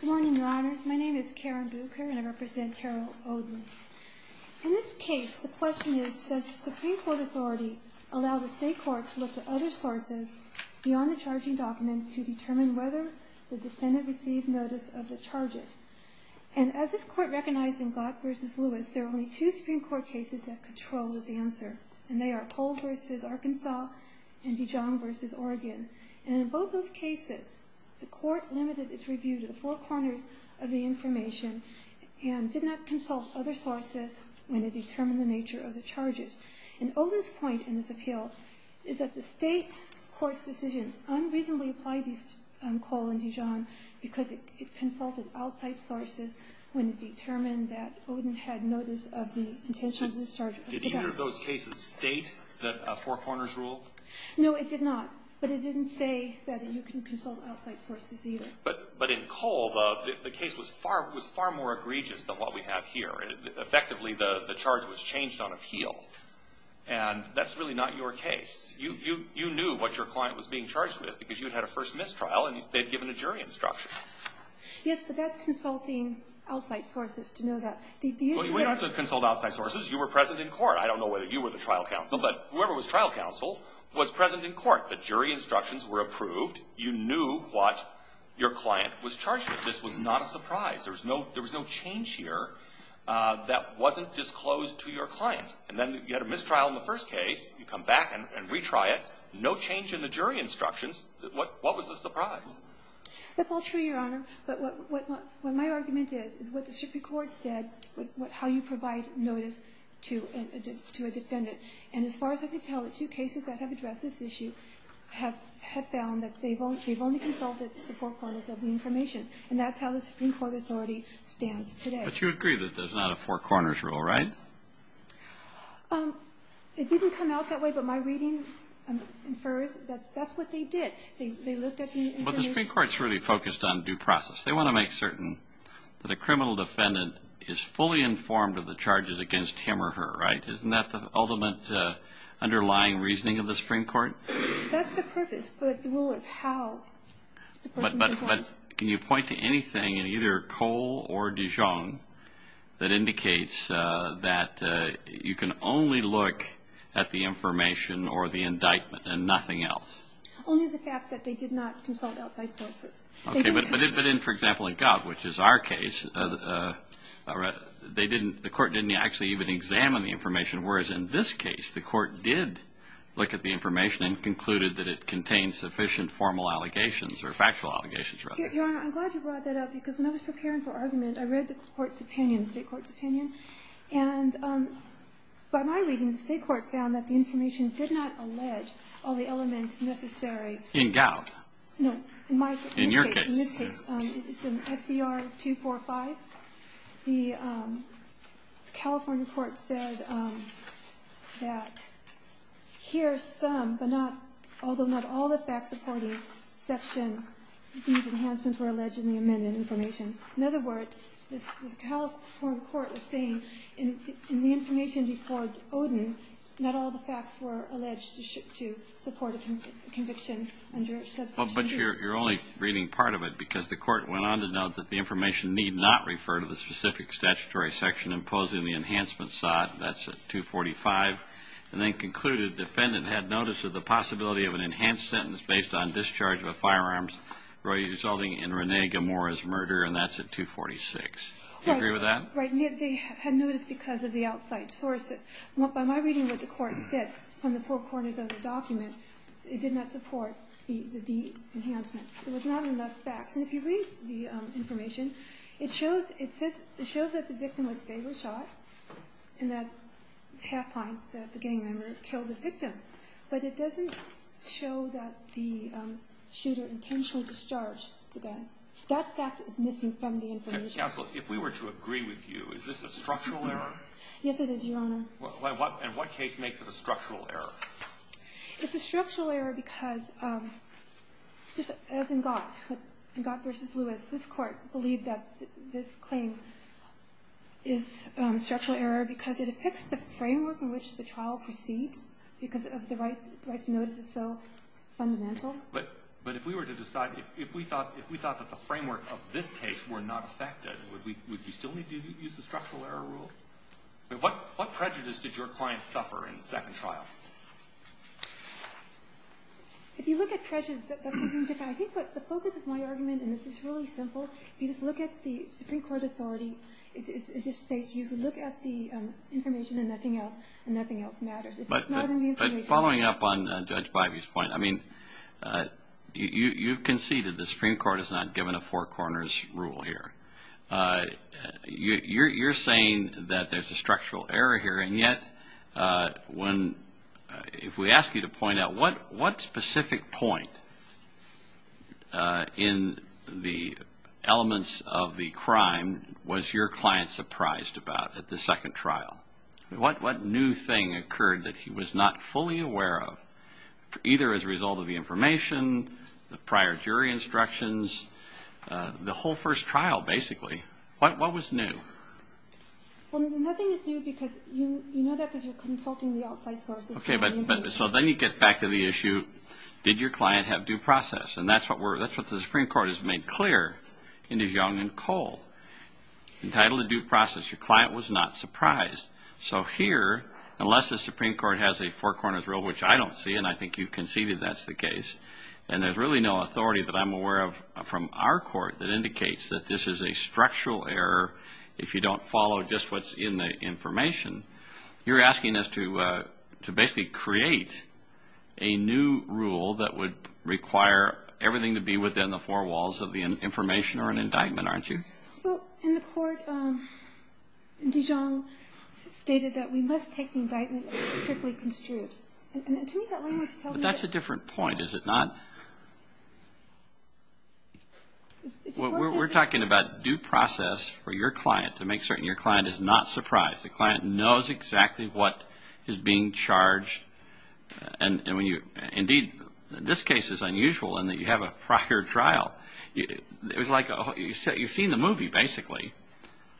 Good morning, Your Honors. My name is Karen Bucher, and I represent Terrell Oden. In this case, the question is, does the Supreme Court authority allow the State Court to look to other sources beyond the charging document to determine whether the defendant received notice of the charges? And as this Court recognized in Glock v. Lewis, there are only two Supreme Court cases that control this answer, and they are Pohl v. Arkansas and Dijon v. Oregon. And in both those cases, the Court limited its review to the four corners of the information and did not consult other sources when it determined the nature of the charges. And Oden's point in this appeal is that the State Court's decision unreasonably applied this call in Dijon because it consulted outside sources when it determined that Oden had notice of the intentional discharges. Did either of those cases state that a four corners rule? No, it did not, but it didn't say that you can consult outside sources either. But in Kohl, the case was far more egregious than what we have here. Effectively, the charge was changed on appeal, and that's really not your case. You knew what your client was being charged with because you had had a first-miss trial, and they had given a jury instruction. Yes, but that's consulting outside sources to know that. Well, you don't have to consult outside sources. You were present in court. I don't know whether you were the trial counsel, but whoever was trial counsel was present in court. The jury instructions were approved. You knew what your client was charged with. This was not a surprise. There was no change here that wasn't disclosed to your client. And then you had a mistrial in the first case. You come back and retry it. No change in the jury instructions. What was the surprise? That's all true, Your Honor. But what my argument is is what the Supreme Court said, how you provide notice to a defendant. And as far as I could tell, the two cases that have addressed this issue have found that they've only consulted the four corners of the information. And that's how the Supreme Court authority stands today. But you agree that there's not a four corners rule, right? It didn't come out that way, but my reading infers that that's what they did. They looked at the information. But the Supreme Court is really focused on due process. They want to make certain that a criminal defendant is fully informed of the charges against him or her, right? Isn't that the ultimate underlying reasoning of the Supreme Court? That's the purpose, but the rule is how the person is informed. But can you point to anything in either Cole or Dijon that indicates that you can only look at the information or the indictment and nothing else? Only the fact that they did not consult outside sources. Okay. But in, for example, in Gov, which is our case, they didn't, the Court didn't actually even examine the information. Whereas in this case, the Court did look at the information and concluded that it contained sufficient formal allegations or factual allegations, rather. Your Honor, I'm glad you brought that up because when I was preparing for argument, I read the Court's opinion, the State Court's opinion. And by my reading, the State Court found that the information did not allege all the elements necessary. In Gov? No, in my case. In your case? In this case. It's in SCR 245. The California Court said that here are some, but not, although not all the facts supporting Section D's enhancements were alleged in the amended information. In other words, the California Court was saying in the information before Odin, not all the facts were alleged to support a conviction under Subsection D. Well, but you're only reading part of it because the Court went on to note that the information need not refer to the specific statutory section imposing the enhancement side. That's at 245. And then concluded the defendant had notice of the possibility of an enhanced sentence based on discharge of a firearm resulting in Rene Gamora's murder, and that's at 246. Do you agree with that? Right. They had notice because of the outside sources. By my reading of what the Court said from the four corners of the document, it did not support the D enhancement. There was not enough facts. And if you read the information, it shows that the victim was fatally shot, and that half-pint, the gang member, killed the victim. But it doesn't show that the shooter intentionally discharged the gun. That fact is missing from the information. Counsel, if we were to agree with you, is this a structural error? Yes, it is, Your Honor. And what case makes it a structural error? It's a structural error because, just as in Gott, in Gott v. Lewis, this Court believed that this claim is a structural error because it affects the framework in which the trial proceeds because of the right to notice is so fundamental. But if we were to decide, if we thought that the framework of this case were not affected, would we still need to use the structural error rule? What prejudice did your client suffer in the second trial? If you look at prejudice, that's something different. I think that the focus of my argument, and this is really simple, if you just look at the Supreme Court authority, it just states you can look at the information and nothing else, and nothing else matters. But following up on Judge Bivey's point, I mean, you've conceded the Supreme Court has not given a four corners rule here. You're saying that there's a structural error here, and yet, if we ask you to point out, what specific point in the elements of the crime was your client surprised about at the second trial? What new thing occurred that he was not fully aware of, either as a result of the information, the prior jury instructions, the whole first trial, basically? What was new? Well, nothing is new because you know that because you're consulting the outside sources. Okay, but so then you get back to the issue, did your client have due process? And that's what the Supreme Court has made clear in De Jong and Cole. Entitled to due process, your client was not surprised. So here, unless the Supreme Court has a four corners rule, which I don't see, and I think you've conceded that's the case, and there's really no authority that I'm aware of from our court that indicates that this is a structural error if you don't follow just what's in the information, you're asking us to basically create a new rule that would require everything to be within the four walls of the information or an indictment, aren't you? Well, in the court, De Jong stated that we must take the indictment strictly construed. But that's a different point, is it not? We're talking about due process for your client to make certain your client is not surprised. The client knows exactly what is being charged. Indeed, this case is unusual in that you have a prior trial. It was like you've seen the movie, basically.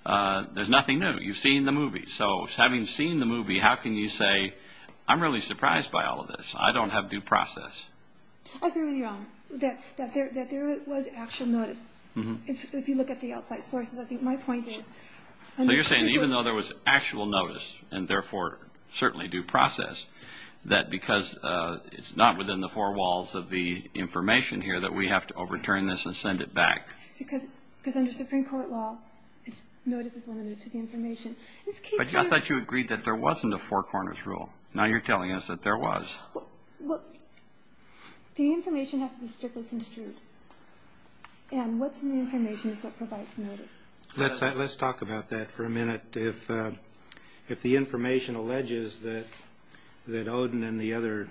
There's nothing new. You've seen the movie. So having seen the movie, how can you say, I'm really surprised by all of this. I don't have due process. I agree with you on that there was actual notice. If you look at the outside sources, I think my point is... So you're saying even though there was actual notice and therefore certainly due process, that because it's not within the four walls of the information here that we have to overturn this and send it back. Because under Supreme Court law, notice is limited to the information. But I thought you agreed that there wasn't a four corners rule. Now you're telling us that there was. The information has to be strictly construed. And what's in the information is what provides notice. Let's talk about that for a minute. But if the information alleges that Odin and the other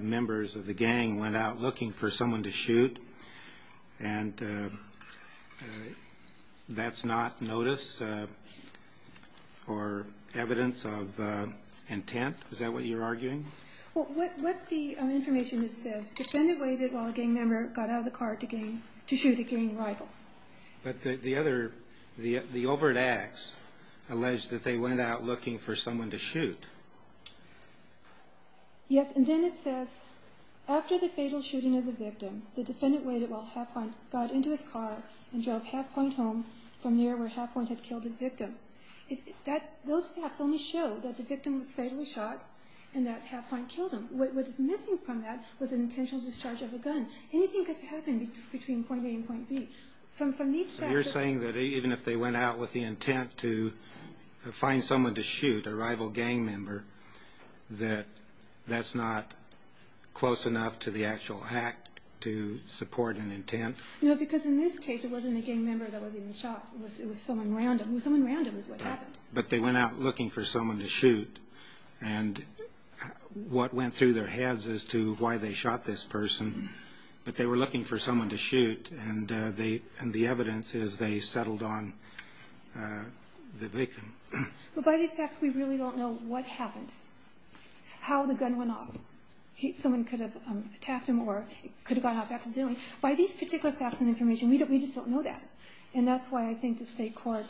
members of the gang went out looking for someone to shoot, and that's not notice or evidence of intent, is that what you're arguing? Well, what the information says, defendant waited while a gang member got out of the car to shoot a gang rival. But the overt acts allege that they went out looking for someone to shoot. Yes, and then it says, after the fatal shooting of the victim, the defendant waited while Halfpoint got into his car and drove Halfpoint home from there where Halfpoint had killed the victim. Those facts only show that the victim was fatally shot and that Halfpoint killed him. What is missing from that was an intentional discharge of a gun. Anything could happen between point A and point B. So you're saying that even if they went out with the intent to find someone to shoot, a rival gang member, that that's not close enough to the actual act to support an intent? No, because in this case it wasn't a gang member that was even shot. It was someone random. It was someone random is what happened. But they went out looking for someone to shoot. And what went through their heads as to why they shot this person, but they were looking for someone to shoot. And the evidence is they settled on the victim. But by these facts, we really don't know what happened, how the gun went off. Someone could have attacked him or it could have gone off accidentally. By these particular facts and information, we just don't know that. And that's why I think the state court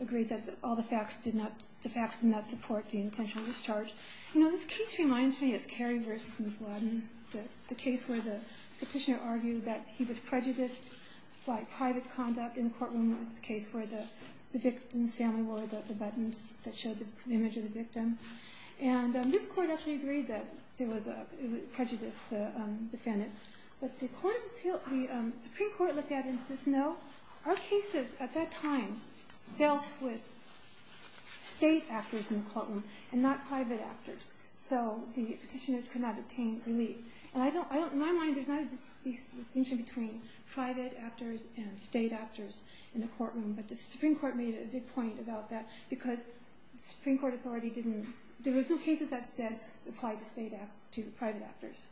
agreed that all the facts did not support the intentional discharge. You know, this case reminds me of Carey v. Ms. Laden, the case where the petitioner argued that he was prejudiced by private conduct in the courtroom. It was the case where the victim's family wore the buttons that showed the image of the victim. And this court actually agreed that it prejudiced the defendant. But the Supreme Court looked at it and says, no, our cases at that time dealt with state actors in the courtroom and not private actors. So the petitioner could not obtain relief. And in my mind, there's not a distinction between private actors and state actors in the courtroom. But the Supreme Court made a big point about that because the Supreme Court authority didn't – there was no cases that said it applied to private actors.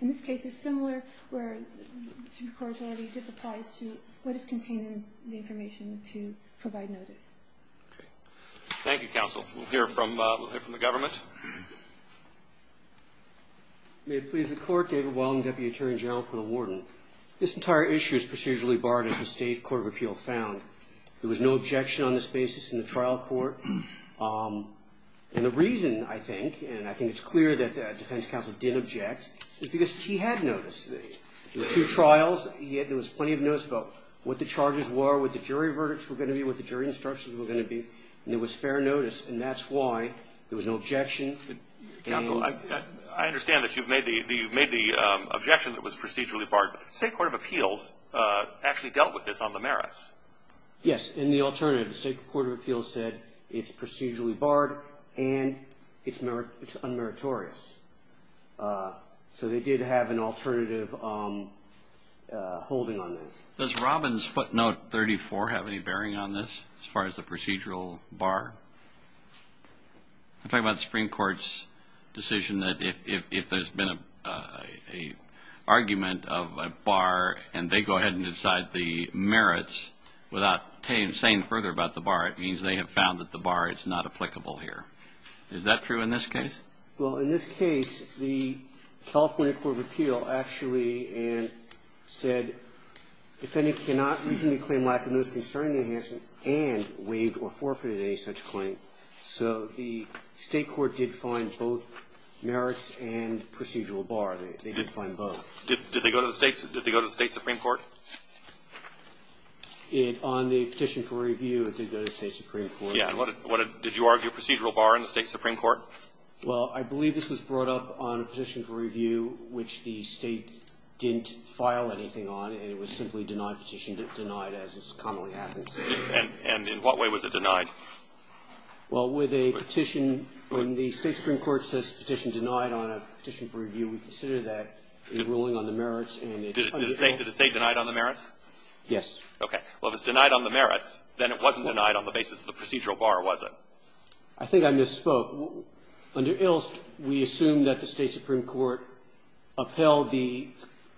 And this case is similar where the Supreme Court authority just applies to what is contained in the information to provide notice. Thank you, Counsel. We'll hear from the government. May it please the Court, David Wallen, Deputy Attorney General for the Warden. This entire issue is procedurally barred as the state court of appeal found. There was no objection on this basis in the trial court. And the reason, I think, and I think it's clear that the defense counsel didn't object, is because he had noticed. There were two trials. There was plenty of notice about what the charges were, what the jury verdicts were going to be, what the jury instructions were going to be, and there was fair notice. And that's why there was no objection. Counsel, I understand that you've made the objection that it was procedurally barred. But the state court of appeals actually dealt with this on the merits. Yes, in the alternative. The state court of appeals said it's procedurally barred and it's unmeritorious. So they did have an alternative holding on that. Does Robin's footnote 34 have any bearing on this as far as the procedural bar? I'm talking about the Supreme Court's decision that if there's been an argument of a bar and they go ahead and decide the merits without saying further about the bar, it means they have found that the bar is not applicable here. Is that true in this case? Well, in this case, the California court of appeals actually said defendant cannot reasonably claim lack of notice concerning the enhancement and waived or forfeited any such claim. So the state court did find both merits and procedural bar. They did find both. Did they go to the state supreme court? On the petition for review, it did go to the state supreme court. Did you argue a procedural bar in the state supreme court? Well, I believe this was brought up on a petition for review which the State didn't file anything on and it was simply denied, petition denied as it commonly happens. And in what way was it denied? Well, with a petition, when the state supreme court says petition denied on a petition for review, we consider that a ruling on the merits and it's unmeritorious. Did the State deny it on the merits? Yes. Okay. Well, if it's denied on the merits, then it wasn't denied on the basis of the procedural bar, was it? I think I misspoke. Under Ilst, we assume that the State supreme court upheld the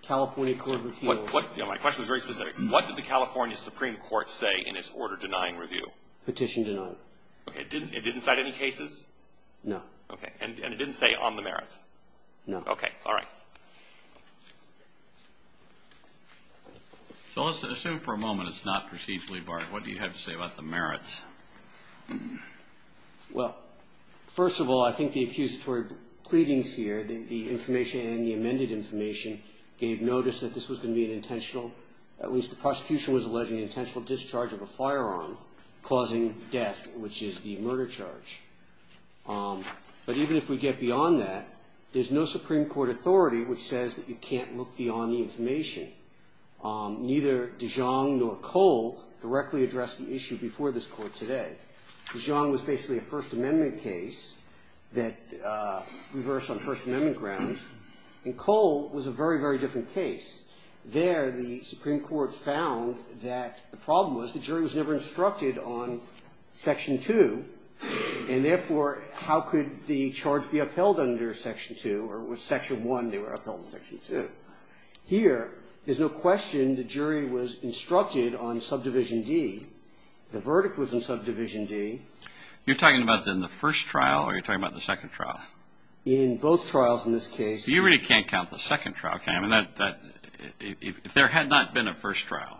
California court of appeals. My question is very specific. What did the California supreme court say in its order denying review? Petition denied. Okay. It didn't cite any cases? No. Okay. And it didn't say on the merits? No. Okay. All right. So let's assume for a moment it's not procedurally barred. What do you have to say about the merits? Well, first of all, I think the accusatory pleadings here, the information and the amended information gave notice that this was going to be an intentional, at least the prosecution was alleging intentional discharge of a firearm causing death, which is the murder charge. But even if we get beyond that, there's no supreme court authority which says that you can't look beyond the information. Neither Dijon nor Cole directly addressed the issue before this court today. Dijon was basically a First Amendment case that reversed on First Amendment grounds. And Cole was a very, very different case. There, the supreme court found that the problem was the jury was never instructed on Section 2, and therefore, how could the charge be upheld under Section 2, or was Section 1, they were upheld in Section 2? Here, there's no question the jury was instructed on Subdivision D. The verdict was in Subdivision D. You're talking about in the first trial, or are you talking about the second trial? In both trials in this case. You really can't count the second trial, can you? I mean, if there had not been a first trial,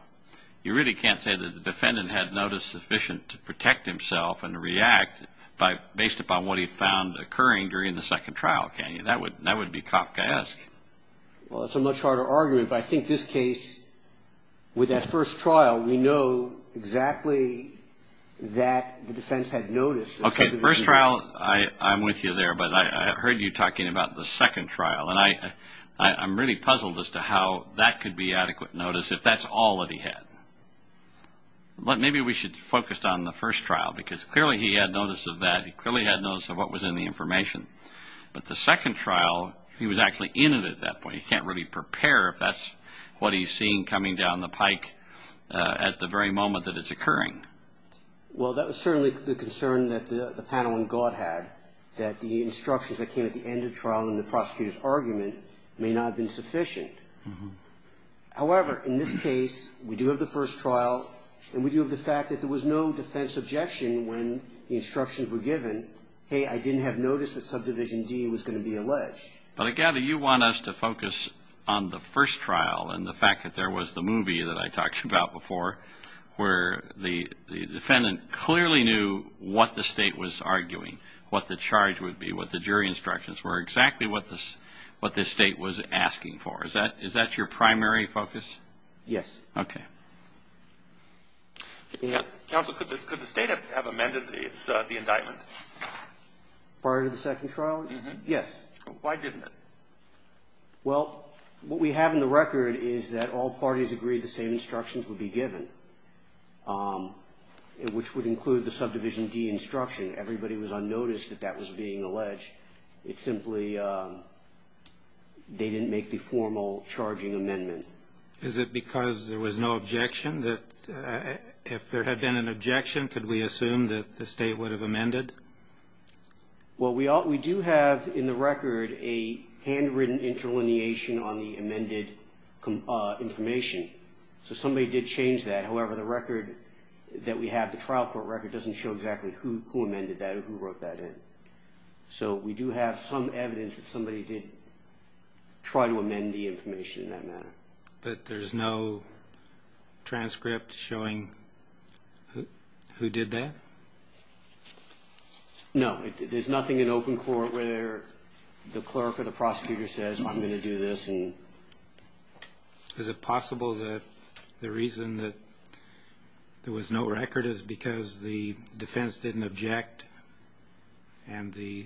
you really can't say that the defendant had notice sufficient to protect himself and to react based upon what he found occurring during the second trial, can you? That would be Kafkaesque. Well, it's a much harder argument, but I think this case, with that first trial, we know exactly that the defense had notice of Subdivision D. Okay, first trial, I'm with you there, but I heard you talking about the second trial, and I'm really puzzled as to how that could be adequate notice if that's all that he had. Well, maybe we should focus on the first trial, because clearly he had notice of that. He clearly had notice of what was in the information. But the second trial, he was actually in it at that point. He can't really prepare if that's what he's seeing coming down the pike at the very moment that it's occurring. Well, that was certainly the concern that the panel in God had, that the instructions that came at the end of the trial in the prosecutor's argument may not have been sufficient. However, in this case, we do have the first trial, and we do have the fact that there was no defense objection when the instructions were given. Hey, I didn't have notice that Subdivision D was going to be alleged. But I gather you want us to focus on the first trial and the fact that there was the movie that I talked about before where the defendant clearly knew what the State was arguing, what the charge would be, what the jury instructions were, exactly what the State was asking for. Is that your primary focus? Yes. Okay. Counsel, could the State have amended the indictment? Prior to the second trial? Yes. Why didn't it? Well, what we have in the record is that all parties agreed the same instructions would be given, which would include the Subdivision D instruction. Everybody was unnoticed that that was being alleged. It's simply they didn't make the formal charging amendment. Is it because there was no objection that if there had been an objection, could we assume that the State would have amended? Well, we do have in the record a handwritten interlineation on the amended information. So somebody did change that. However, the record that we have, the trial court record, doesn't show exactly who amended that or who wrote that in. So we do have some evidence that somebody did try to amend the information in that manner. But there's no transcript showing who did that? No. There's nothing in open court where the clerk or the prosecutor says, I'm going to do this. Is it possible that the reason that there was no record is because the defense didn't object and the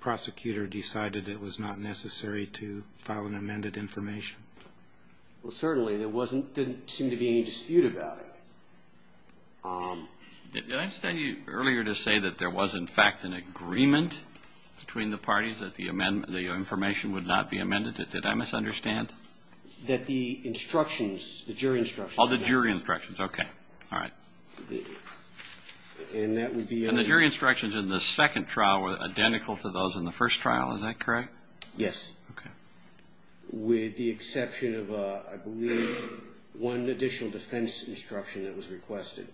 prosecutor decided it was not necessary to file an amended information? Well, certainly. There didn't seem to be any dispute about it. Did I understand you earlier to say that there was, in fact, an agreement between the parties that the information would not be amended? Did I misunderstand? That the instructions, the jury instructions. Oh, the jury instructions. Okay. All right. And the jury instructions in the second trial were identical to those in the first trial. Is that correct? Yes. Okay. With the exception of, I believe, one additional defense instruction that was requested.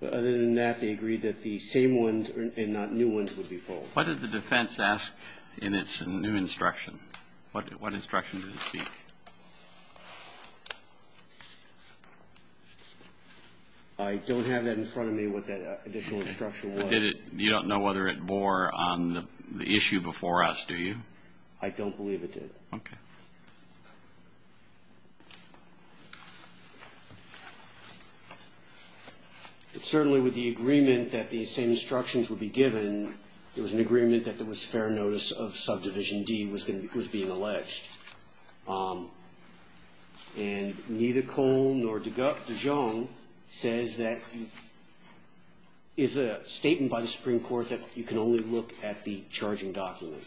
But other than that, they agreed that the same ones and not new ones would be filed. What did the defense ask in its new instruction? What instruction did it seek? I don't have that in front of me, what that additional instruction was. You don't know whether it bore on the issue before us, do you? I don't believe it did. Okay. Certainly, with the agreement that the same instructions would be given, it was an agreement that there was fair notice of subdivision D was being alleged. And neither Cohn nor de Jong says that, is a statement by the Supreme Court that you can only look at the charging document.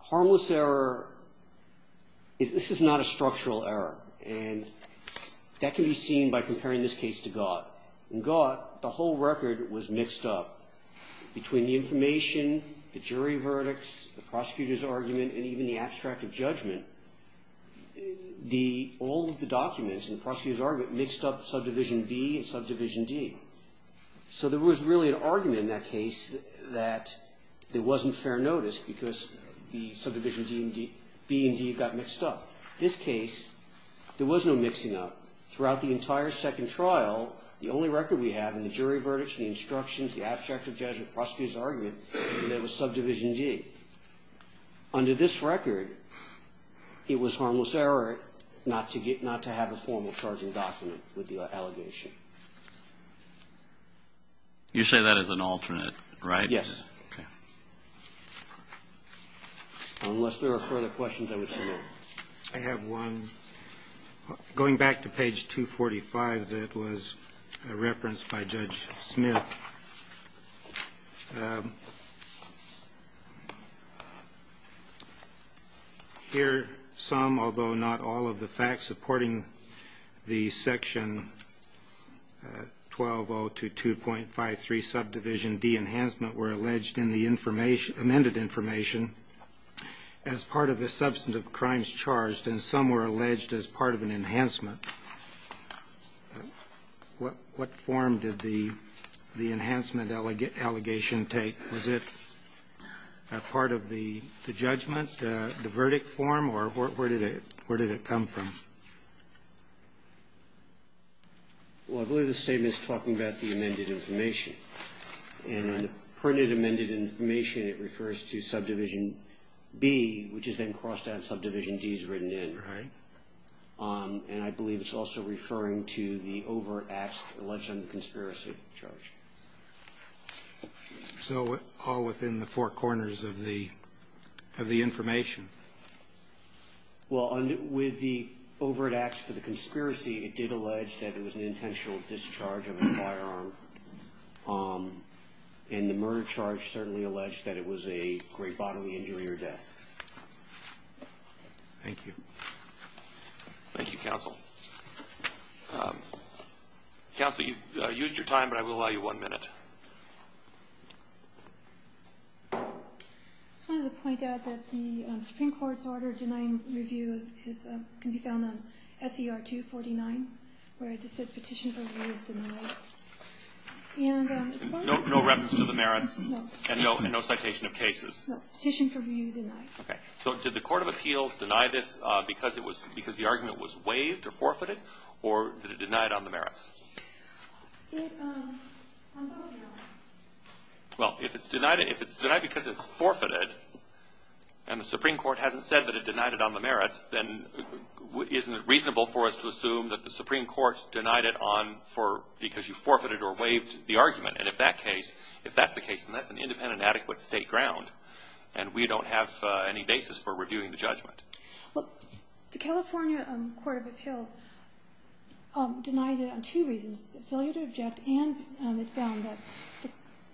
Harmless error, this is not a structural error. And that can be seen by comparing this case to Gott. In Gott, the whole record was mixed up between the information, the jury verdicts, the prosecutor's argument, and even the abstract of judgment. All of the documents in the prosecutor's argument mixed up subdivision B and subdivision D. So there was really an argument in that case that there wasn't fair notice because the subdivision B and D got mixed up. This case, there was no mixing up. Throughout the entire second trial, the only record we have in the jury verdicts, the instructions, the abstract of judgment, prosecutor's argument, and that was subdivision D. Under this record, it was harmless error not to have a formal charging document with the allegation. You say that as an alternate, right? Yes. Unless there are further questions, I would submit. I have one. Going back to page 245 that was referenced by Judge Smith. Here, some, although not all, of the facts supporting the section 120 to 2.53 subdivision D enhancement were alleged in the amended information as part of the substantive crimes charged, and some were alleged as part of an enhancement. What form did the enhancement allegation take? Was it a part of the judgment, the verdict form, or where did it come from? Well, I believe the statement is talking about the amended information. And when printed amended information, it refers to subdivision B, which is then crossed out and subdivision D is written in. Right. And I believe it's also referring to the overt acts alleged under the conspiracy charge. So all within the four corners of the information? Well, with the overt acts for the conspiracy, it did allege that it was an intentional discharge of a firearm. And the murder charge certainly alleged that it was a great bodily injury or death. Thank you. Thank you, Counsel. Counsel, you've used your time, but I will allow you one minute. I just wanted to point out that the Supreme Court's order denying review can be found in SER 249, where it just said petition for review is denied. No reference to the merits? No. And no citation of cases? No. Petition for review denied. Okay. So did the Court of Appeals deny this because the argument was waived or forfeited, or did it deny it on the merits? Well, if it's denied because it's forfeited and the Supreme Court hasn't said that it isn't reasonable for us to assume that the Supreme Court denied it because you forfeited or waived the argument. And if that's the case, then that's an independent and adequate state ground, and we don't have any basis for reviewing the judgment. Well, the California Court of Appeals denied it on two reasons, failure to object and it found that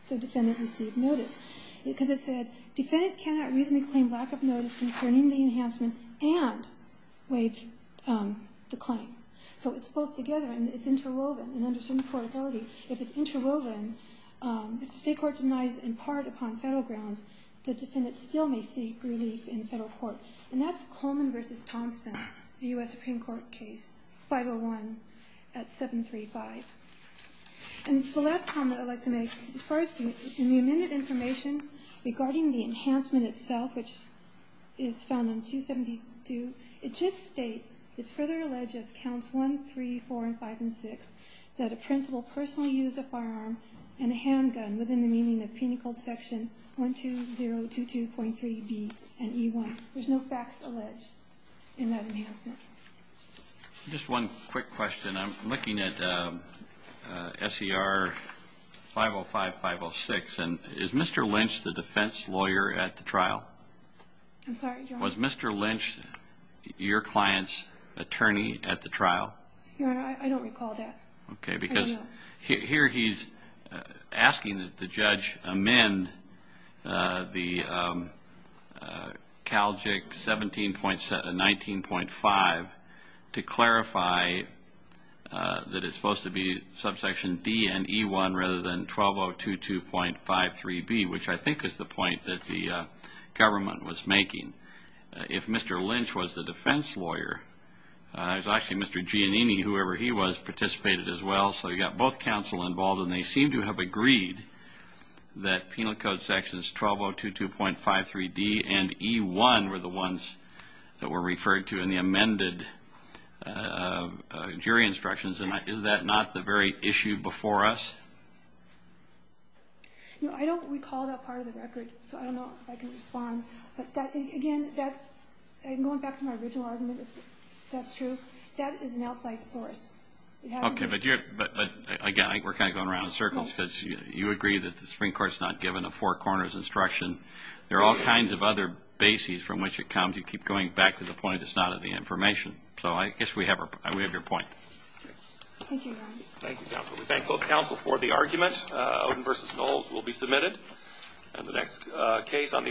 the defendant received notice. Because it said, defendant cannot reasonably claim lack of notice concerning the enhancement and waived the claim. So it's both together and it's interwoven. And under certain court authority, if it's interwoven, if the state court denies it in part upon federal grounds, the defendant still may seek relief in federal court. And that's Coleman v. Thompson, a U.S. Supreme Court case, 501 at 735. And the last comment I'd like to make, as far as the amended information regarding the enhancement itself, which is found on 272, it just states it's further alleged as counts 1, 3, 4, and 5, and 6, that a principal personally used a firearm and a handgun within the meaning of Penal Code section 12022.3b and e1. There's no facts alleged in that enhancement. Just one quick question. I'm looking at S.E.R. 505, 506. And is Mr. Lynch the defense lawyer at the trial? I'm sorry, Your Honor. Was Mr. Lynch your client's attorney at the trial? Your Honor, I don't recall that. Okay. Because here he's asking that the judge amend the CALJIC 17.7 and 19.5 to clarify that it's supposed to be subsection D and e1 rather than 12022.53b, which I think is the point that the government was making. If Mr. Lynch was the defense lawyer, actually Mr. Giannini, whoever he was, participated as well. So you've got both counsel involved, and they seem to have agreed that Penal Code sections 12022.53d and e1 were the ones that were referred to in the amended jury instructions. Is that not the very issue before us? I don't recall that part of the record, so I don't know if I can respond. Again, going back to my original argument, if that's true, that is an outside source. Okay. But, again, we're kind of going around in circles because you agree that the Supreme Court's not given a four corners instruction. There are all kinds of other bases from which it comes. You keep going back to the point it's not in the information. So I guess we have your point. Thank you, Your Honor. Thank you, counsel. We thank both counsel for the argument. Odin v. Knowles will be submitted. And the next case on the order.